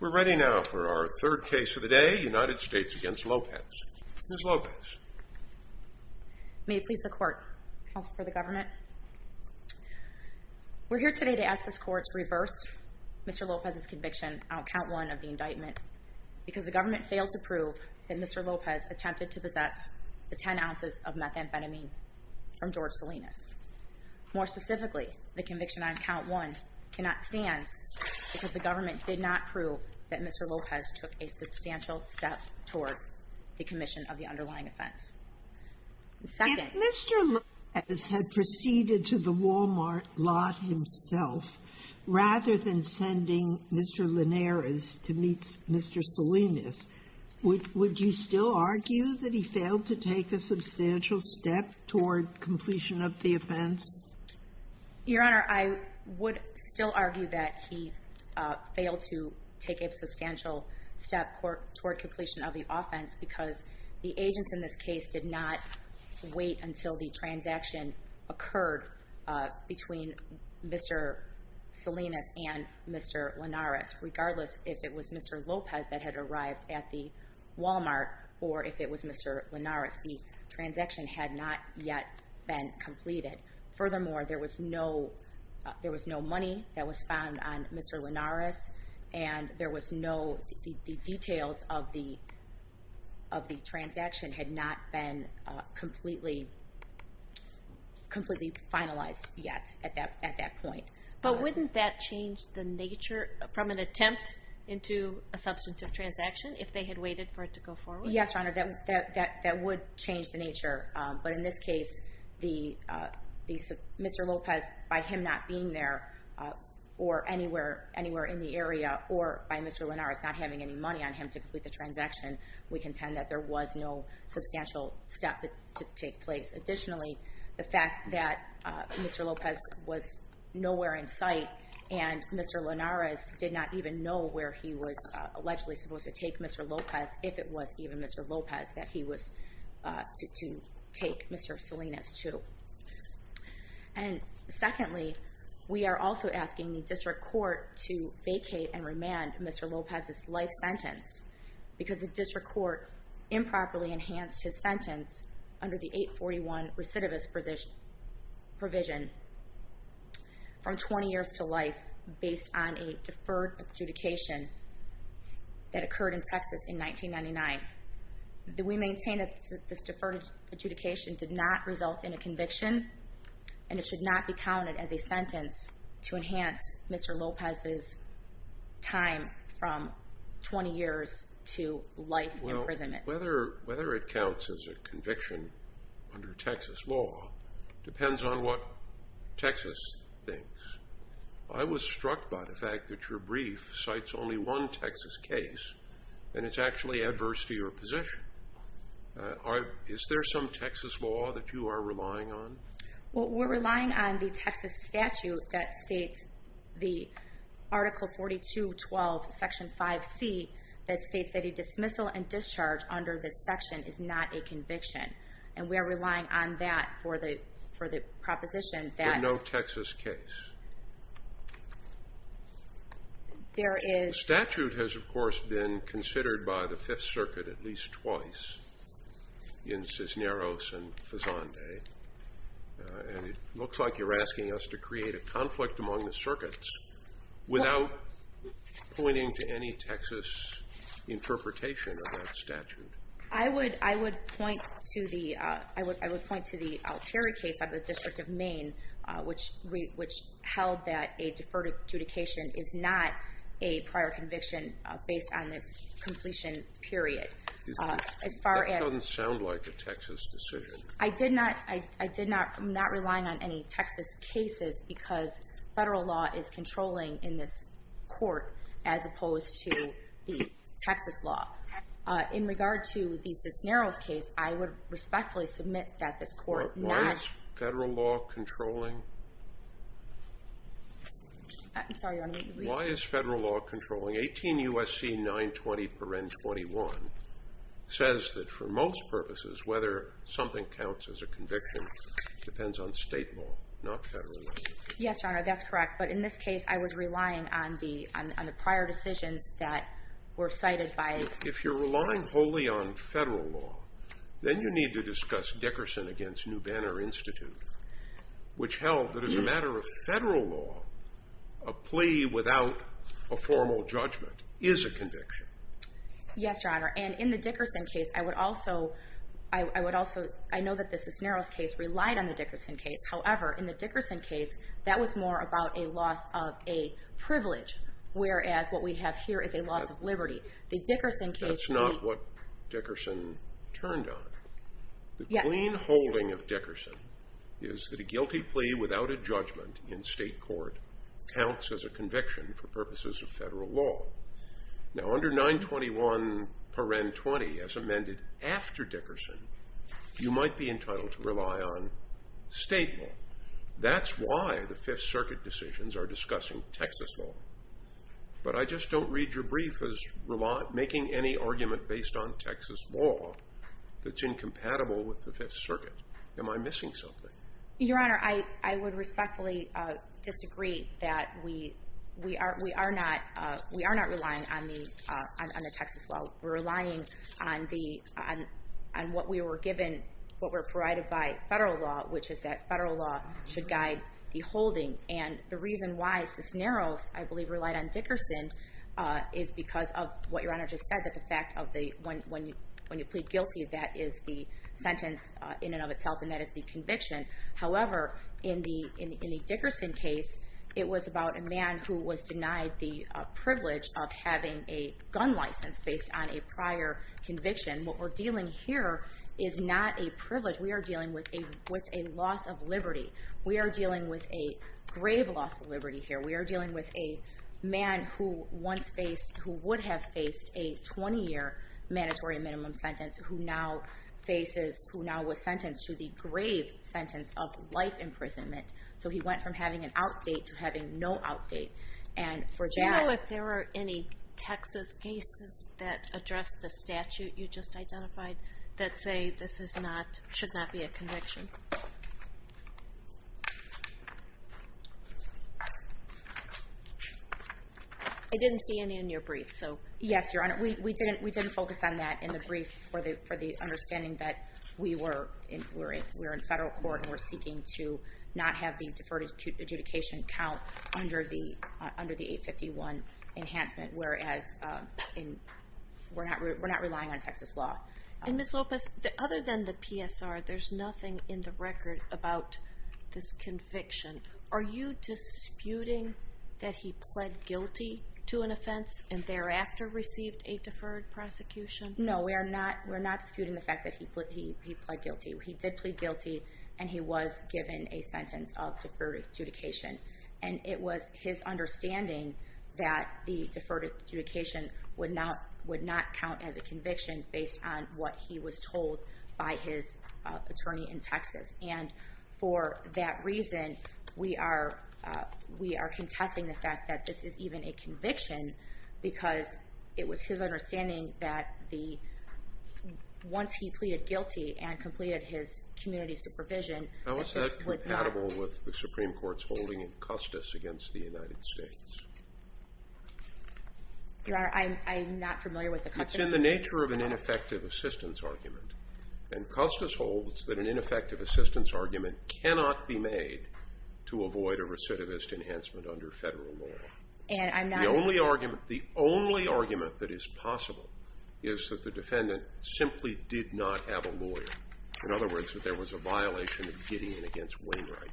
We're ready now for our third case of the day, United States v. Lopez. Ms. Lopez. May it please the Court, Counsel for the Government. We're here today to ask this Court to reverse Mr. Lopez's conviction on Count 1 of the indictment because the government failed to prove that Mr. Lopez attempted to possess the 10 ounces of methamphetamine from George Salinas. More specifically, the conviction on Count 1 cannot stand because the government did not prove that Mr. Lopez took a substantial step toward the commission of the underlying offense. If Mr. Lopez had proceeded to the Walmart lot himself, rather than sending Mr. Linares to meet Mr. Salinas, would you still argue that he failed to take a substantial step toward completion of the offense? Your Honor, I would still argue that he failed to take a substantial step toward completion of the offense because the agents in this case did not wait until the transaction occurred between Mr. Salinas and Mr. Linares, regardless if it was Mr. Lopez that had arrived at the Walmart or if it was Mr. Linares. The transaction had not yet been completed. Furthermore, there was no money that was found on Mr. Linares and the details of the transaction had not been completely finalized yet at that point. But wouldn't that change the nature from an attempt into a substantive transaction if they had waited for it to go forward? Yes, Your Honor, that would change the nature. But in this case, Mr. Lopez, by him not being there or anywhere in the area, or by Mr. Linares not having any money on him to complete the transaction, we contend that there was no substantial step to take place. Additionally, the fact that Mr. Lopez was nowhere in sight and Mr. Linares did not even know where he was allegedly supposed to take Mr. Lopez, if it was even Mr. Lopez that he was to take Mr. Salinas to. And secondly, we are also asking the district court to vacate and remand Mr. Lopez's life sentence because the district court improperly enhanced his sentence under the 841 recidivist provision from 20 years to life based on a deferred adjudication that occurred in Texas in 1999. We maintain that this deferred adjudication did not result in a conviction and it should not be counted as a sentence to enhance Mr. Lopez's time from 20 years to life imprisonment. Well, whether it counts as a conviction under Texas law depends on what Texas thinks. I was struck by the fact that your brief cites only one Texas case, and it's actually adverse to your position. Is there some Texas law that you are relying on? Well, we're relying on the Texas statute that states the Article 42.12, Section 5C, that states that a dismissal and discharge under this section is not a conviction. And we are relying on that for the proposition that no Texas case. The statute has, of course, been considered by the Fifth Circuit at least twice, in Cisneros and Fazande, and it looks like you're asking us to create a conflict among the circuits without pointing to any Texas interpretation of that statute. I would point to the Altieri case out of the District of Maine, which held that a deferred adjudication is not a prior conviction based on this completion period. That doesn't sound like a Texas decision. I'm not relying on any Texas cases because federal law is controlling in this court as opposed to the Texas law. In regard to the Cisneros case, I would respectfully submit that this court not— But why is federal law controlling? I'm sorry, Your Honor. Why is federal law controlling? 18 U.S.C. 920.21 says that for most purposes, whether something counts as a conviction depends on state law, not federal law. Yes, Your Honor, that's correct. But in this case, I was relying on the prior decisions that were cited by— If you're relying wholly on federal law, then you need to discuss Dickerson against New Banner Institute, which held that as a matter of federal law, a plea without a formal judgment is a conviction. Yes, Your Honor, and in the Dickerson case, I would also— I know that the Cisneros case relied on the Dickerson case. However, in the Dickerson case, that was more about a loss of a privilege, whereas what we have here is a loss of liberty. The Dickerson case— That's not what Dickerson turned on. The clean holding of Dickerson is that a guilty plea without a judgment in state court counts as a conviction for purposes of federal law. Now, under 921.20, as amended after Dickerson, you might be entitled to rely on state law. That's why the Fifth Circuit decisions are discussing Texas law. But I just don't read your brief as making any argument based on Texas law that's incompatible with the Fifth Circuit. Am I missing something? Your Honor, I would respectfully disagree that we are not relying on the Texas law. We're relying on what we were given, what we're provided by federal law, which is that federal law should guide the holding. And the reason why Cisneros, I believe, relied on Dickerson is because of what Your Honor just said, that the fact of when you plead guilty, that is the sentence in and of itself, and that is the conviction. However, in the Dickerson case, it was about a man who was denied the privilege of having a gun license based on a prior conviction. What we're dealing here is not a privilege. We are dealing with a loss of liberty. We are dealing with a grave loss of liberty here. We are dealing with a man who would have faced a 20-year mandatory minimum sentence, who now was sentenced to the grave sentence of life imprisonment. So he went from having an outdate to having no outdate. Do you know if there are any Texas cases that address the statute you just identified that say this should not be a conviction? I didn't see any in your brief. Yes, Your Honor. We didn't focus on that in the brief for the understanding that we're in federal court and we're seeking to not have the deferred adjudication count under the 851 enhancement, whereas we're not relying on Texas law. Ms. Lopez, other than the PSR, there's nothing in the record about this conviction. Are you disputing that he pled guilty to an offense and thereafter received a deferred prosecution? No, we're not disputing the fact that he pled guilty. He did plead guilty, and he was given a sentence of deferred adjudication. And it was his understanding that the deferred adjudication would not count as a conviction based on what he was told by his attorney in Texas. And for that reason, we are contesting the fact that this is even a conviction, because it was his understanding that once he pleaded guilty and completed his community supervision, that this would not count. How is that compatible with the Supreme Court's holding in Custis against the United States? Your Honor, I'm not familiar with the Custis argument. It's in the nature of an ineffective assistance argument. And Custis holds that an ineffective assistance argument cannot be made to avoid a recidivist enhancement under federal law. And I'm not— The only argument that is possible is that the defendant simply did not have a lawyer. In other words, that there was a violation of Gideon against Wainwright.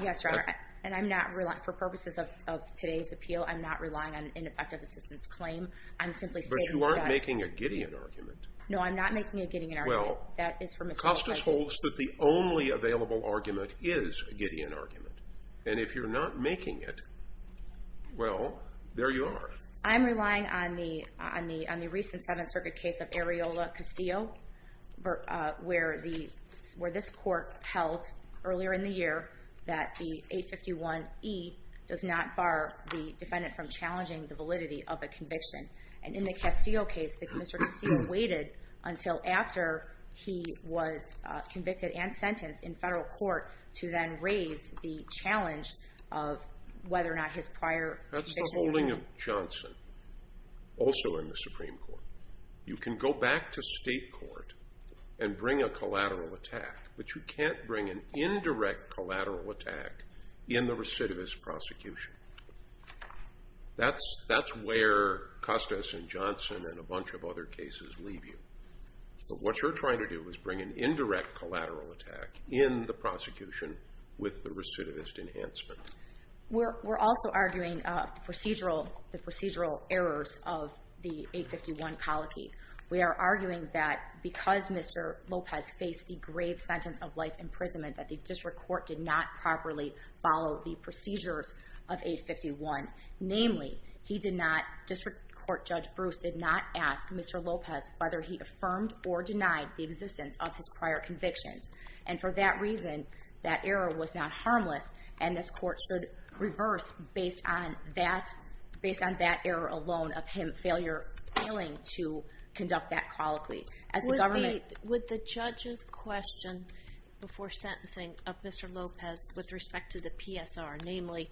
Yes, Your Honor. And I'm not—for purposes of today's appeal, I'm not relying on an ineffective assistance claim. I'm simply stating that— But you aren't making a Gideon argument. No, I'm not making a Gideon argument. Well, Custis holds that the only available argument is a Gideon argument. And if you're not making it, well, there you are. I'm relying on the recent Seventh Circuit case of Areola-Castillo, where this court held earlier in the year that the 851E does not bar the defendant from challenging the validity of a conviction. And in the Castillo case, Mr. Castillo waited until after he was convicted and sentenced in federal court to then raise the challenge of whether or not his prior convictions were valid. That's the holding of Johnson, also in the Supreme Court. You can go back to state court and bring a collateral attack, but you can't bring an indirect collateral attack in the recidivist prosecution. That's where Custis and Johnson and a bunch of other cases leave you. But what you're trying to do is bring an indirect collateral attack in the prosecution with the recidivist enhancement. We're also arguing the procedural errors of the 851 colicky. We are arguing that because Mr. Lopez faced the grave sentence of life imprisonment that the district court did not properly follow the procedures of 851. Namely, district court Judge Bruce did not ask Mr. Lopez whether he affirmed or denied the existence of his prior convictions. And for that reason, that error was not harmless, and this court should reverse based on that error alone of him failing to conduct that colicky. Would the judge's question before sentencing of Mr. Lopez with respect to the PSR, namely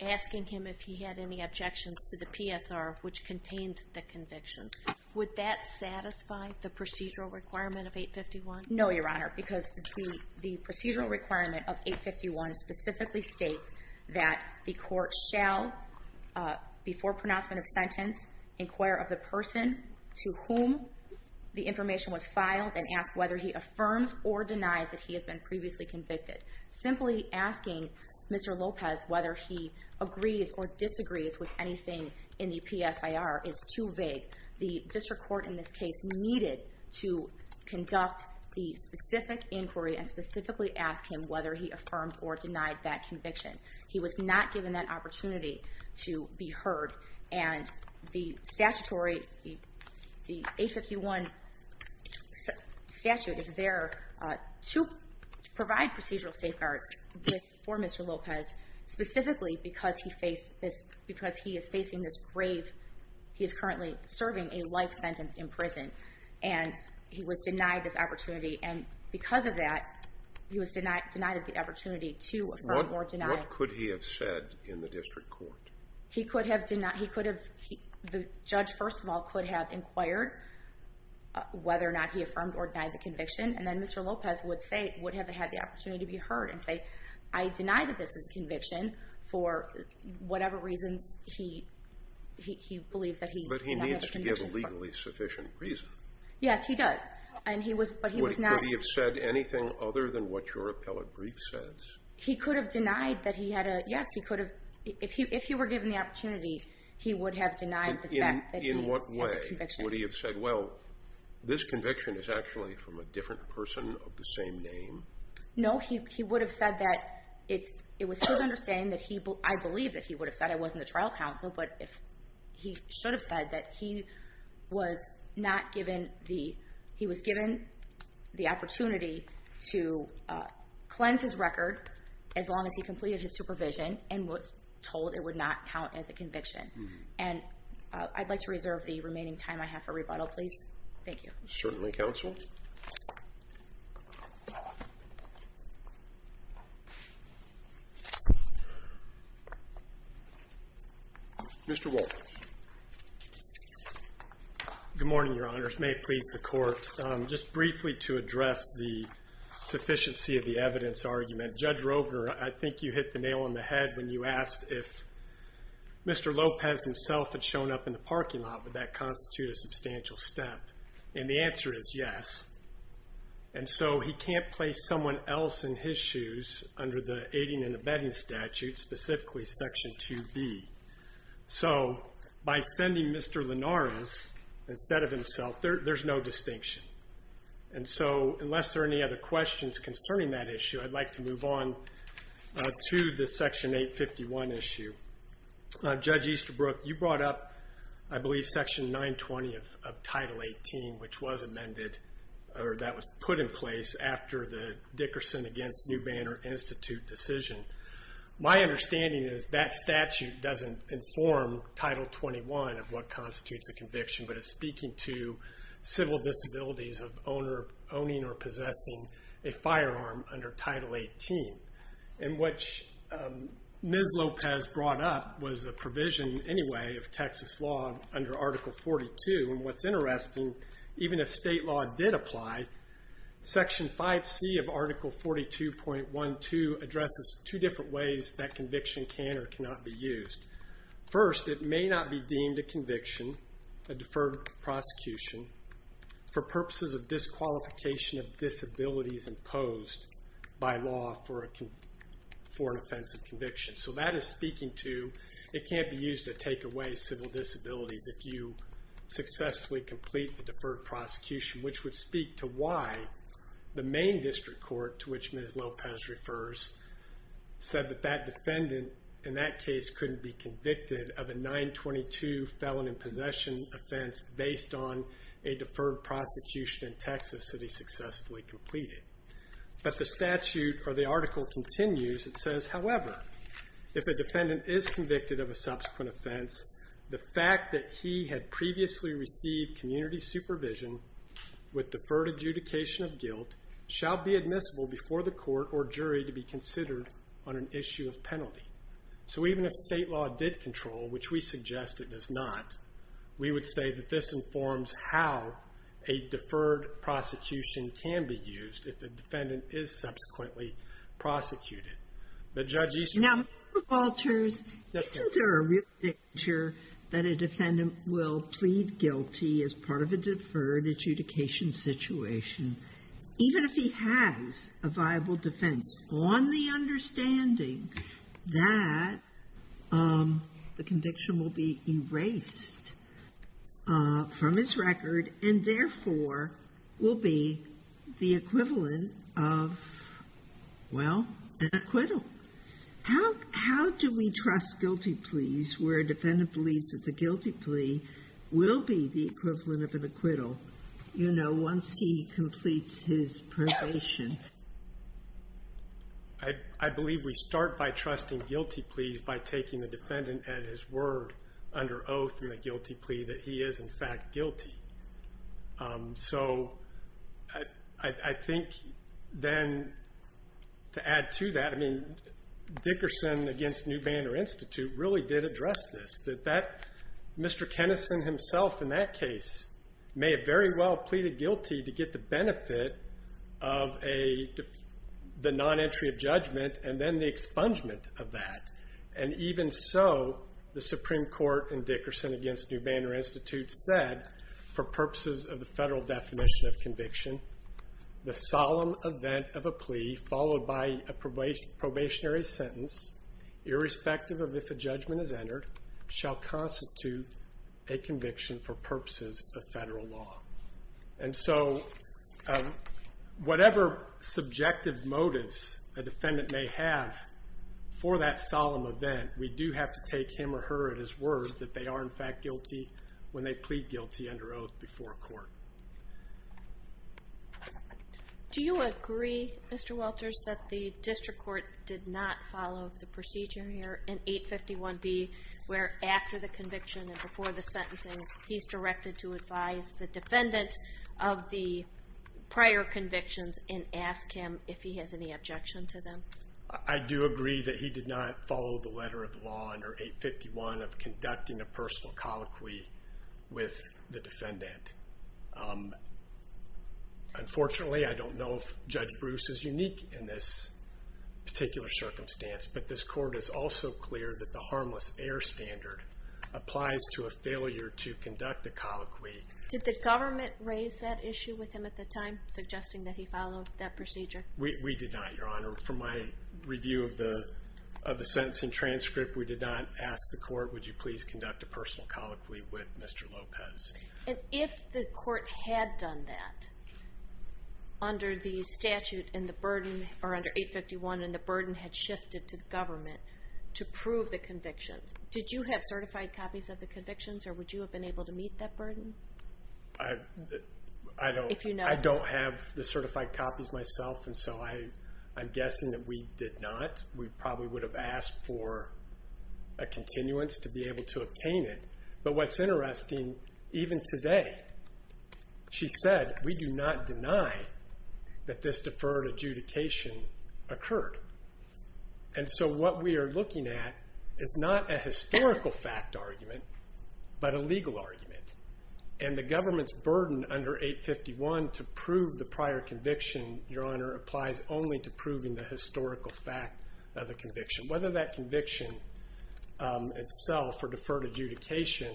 asking him if he had any objections to the PSR which contained the convictions, would that satisfy the procedural requirement of 851? No, Your Honor, because the procedural requirement of 851 specifically states that the court shall, before pronouncement of sentence, inquire of the person to whom the information was filed and ask whether he affirms or denies that he has been previously convicted. Simply asking Mr. Lopez whether he agrees or disagrees with anything in the PSR is too vague. The district court in this case needed to conduct the specific inquiry and specifically ask him whether he affirmed or denied that conviction. He was not given that opportunity to be heard, and the statutory, the 851 statute is there to provide procedural safeguards for Mr. Lopez, specifically because he is facing this grave. He is currently serving a life sentence in prison, and he was denied this opportunity, and because of that, he was denied the opportunity to affirm or deny. What could he have said in the district court? He could have denied. The judge, first of all, could have inquired whether or not he affirmed or denied the conviction, and then Mr. Lopez would have had the opportunity to be heard and say, I deny that this is a conviction for whatever reasons he believes that he has a conviction. But he needs to give a legally sufficient reason. Yes, he does, but he was not. Would he have said anything other than what your appellate brief says? He could have denied that he had a, yes, he could have. If he were given the opportunity, he would have denied the fact that he had a conviction. Would he have said, well, this conviction is actually from a different person of the same name? No, he would have said that it was his understanding that he, I believe that he would have said it wasn't the trial counsel, but he should have said that he was not given the, he was given the opportunity to cleanse his record as long as he completed his supervision and was told it would not count as a conviction. And I'd like to reserve the remaining time I have for rebuttal, please. Thank you. Certainly, counsel. Mr. Wolfe. Good morning, Your Honors. May it please the Court, just briefly to address the sufficiency of the evidence argument. I think you hit the nail on the head when you asked if Mr. Lopez himself had shown up in the parking lot. Would that constitute a substantial step? And the answer is yes. And so he can't place someone else in his shoes under the aiding and abetting statute, specifically Section 2B. So by sending Mr. Linares instead of himself, there's no distinction. And so unless there are any other questions concerning that issue, I'd like to move on to the Section 851 issue. Judge Easterbrook, you brought up, I believe, Section 920 of Title 18, which was amended or that was put in place after the Dickerson against New Banner Institute decision. My understanding is that statute doesn't inform Title 21 of what constitutes a conviction, but is speaking to civil disabilities of owning or possessing a firearm under Title 18. And what Ms. Lopez brought up was a provision anyway of Texas law under Article 42. And what's interesting, even if state law did apply, Section 5C of Article 42.12 addresses two different ways that conviction can or cannot be used. First, it may not be deemed a conviction, a deferred prosecution, for purposes of disqualification of disabilities imposed by law for an offensive conviction. So that is speaking to it can't be used to take away civil disabilities if you successfully complete the deferred prosecution, which would speak to why the main district court, to which Ms. Lopez refers, said that that defendant in that case couldn't be convicted of a 922 felon in possession offense based on a deferred prosecution in Texas that he successfully completed. But the statute or the article continues. It says, however, if a defendant is convicted of a subsequent offense, the fact that he had previously received community supervision with deferred adjudication of guilt shall be admissible before the court or jury to be considered on an issue of penalty. So even if state law did control, which we suggest it does not, we would say that this informs how a deferred prosecution can be used if the defendant is subsequently prosecuted. But Judge Easterbrook. Now, Mr. Walters, isn't there a real picture that a defendant will plead guilty as part of a deferred adjudication situation even if he has a viable defense on the understanding that the conviction will be erased from his record and therefore will be the equivalent of, well, an acquittal? How do we trust guilty pleas where a defendant believes that the guilty plea will be the equivalent of an acquittal? You know, once he completes his probation. I believe we start by trusting guilty pleas by taking the defendant at his word under oath in the guilty plea that he is, in fact, guilty. So I think then to add to that, I mean, Dickerson against New Banner Institute really did address this, that Mr. Kennison himself in that case may have very well pleaded guilty to get the benefit of the non-entry of judgment and then the expungement of that. And even so, the Supreme Court in Dickerson against New Banner Institute said, for purposes of the federal definition of conviction, the solemn event of a plea followed by a probationary sentence, irrespective of if a judgment is entered, shall constitute a conviction for purposes of federal law. And so whatever subjective motives a defendant may have for that solemn event, we do have to take him or her at his word that they are, in fact, guilty Do you agree, Mr. Walters, that the district court did not follow the procedure here in 851B where after the conviction and before the sentencing, he's directed to advise the defendant of the prior convictions and ask him if he has any objection to them? I do agree that he did not follow the letter of the law under 851 of conducting a personal colloquy with the defendant. Unfortunately, I don't know if Judge Bruce is unique in this particular circumstance, but this court is also clear that the harmless air standard applies to a failure to conduct a colloquy. Did the government raise that issue with him at the time, suggesting that he followed that procedure? We did not, Your Honor. From my review of the sentencing transcript, we did not ask the court, would you please conduct a personal colloquy with Mr. Lopez? And if the court had done that under the statute in the burden or under 851 and the burden had shifted to the government to prove the convictions, did you have certified copies of the convictions or would you have been able to meet that burden? I don't have the certified copies myself, and so I'm guessing that we did not. We probably would have asked for a continuance to be able to obtain it. But what's interesting, even today she said, we do not deny that this deferred adjudication occurred. And so what we are looking at is not a historical fact argument but a legal argument, and the government's burden under 851 to prove the prior conviction, Your Honor, applies only to proving the historical fact of the conviction. Whether that conviction itself or deferred adjudication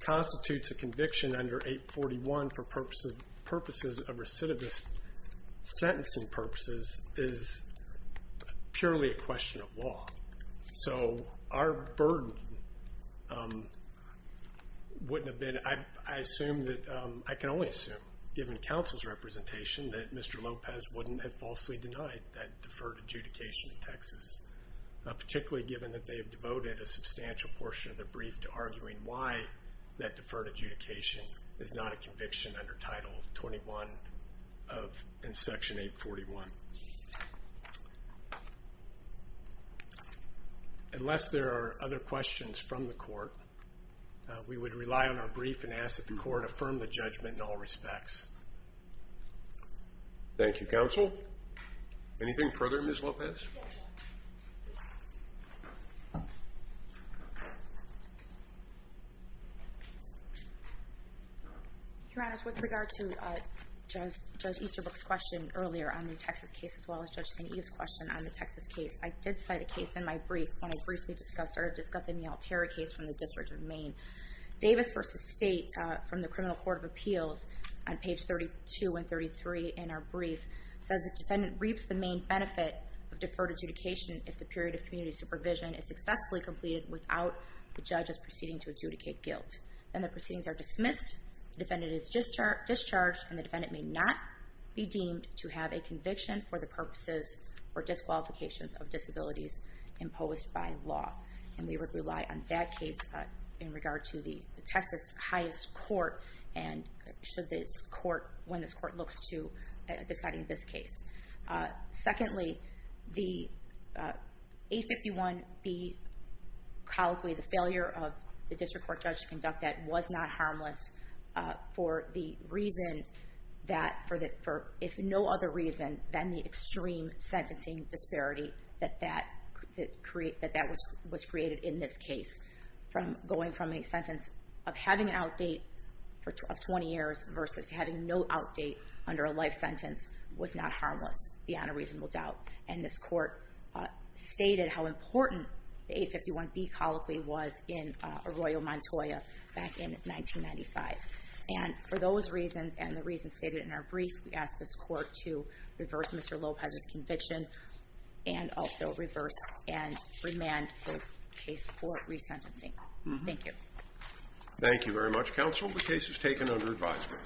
constitutes a conviction under 841 for purposes of recidivist sentencing purposes is purely a question of law. So our burden wouldn't have been, I assume that, I can only assume given counsel's representation, that Mr. Lopez wouldn't have falsely denied that deferred adjudication in Texas, particularly given that they have devoted a substantial portion of their brief to arguing why that deferred adjudication is not a conviction under Title 21 of Section 841. Unless there are other questions from the court, we would rely on our brief and ask that the court affirm the judgment in all respects. Thank you, counsel. Anything further, Ms. Lopez? Your Honor, with regard to Judge Easterbrook's question earlier on the Texas case as well as Judge St. Eve's question on the Texas case, I did cite a case in my brief when I briefly discussed in the Alterra case from the District of Maine. Davis v. State from the Criminal Court of Appeals on page 32 and 33 in our brief says the defendant reaps the main benefit of deferred adjudication if the period of community supervision is successfully completed without the judge's proceeding to adjudicate guilt. Then the proceedings are dismissed, the defendant is discharged, and the defendant may not be deemed to have a conviction for the purposes or disqualifications of disabilities imposed by law. And we would rely on that case in regard to the Texas highest court and should this court, when this court looks to deciding this case. Secondly, the 851B colloquy, the failure of the district court judge to conduct that was not harmless for the reason that, for if no other reason than the extreme sentencing disparity that that was created in this case. Going from a sentence of having an outdate for 20 years versus having no outdate under a life sentence was not harmless, beyond a reasonable doubt. And this court stated how important the 851B colloquy was in Arroyo Montoya back in 1995. And for those reasons and the reasons stated in our brief, we ask this court to reverse Mr. Lopez's conviction and also reverse and remand this case for resentencing. Thank you. Thank you very much, counsel. The case is taken under advisement.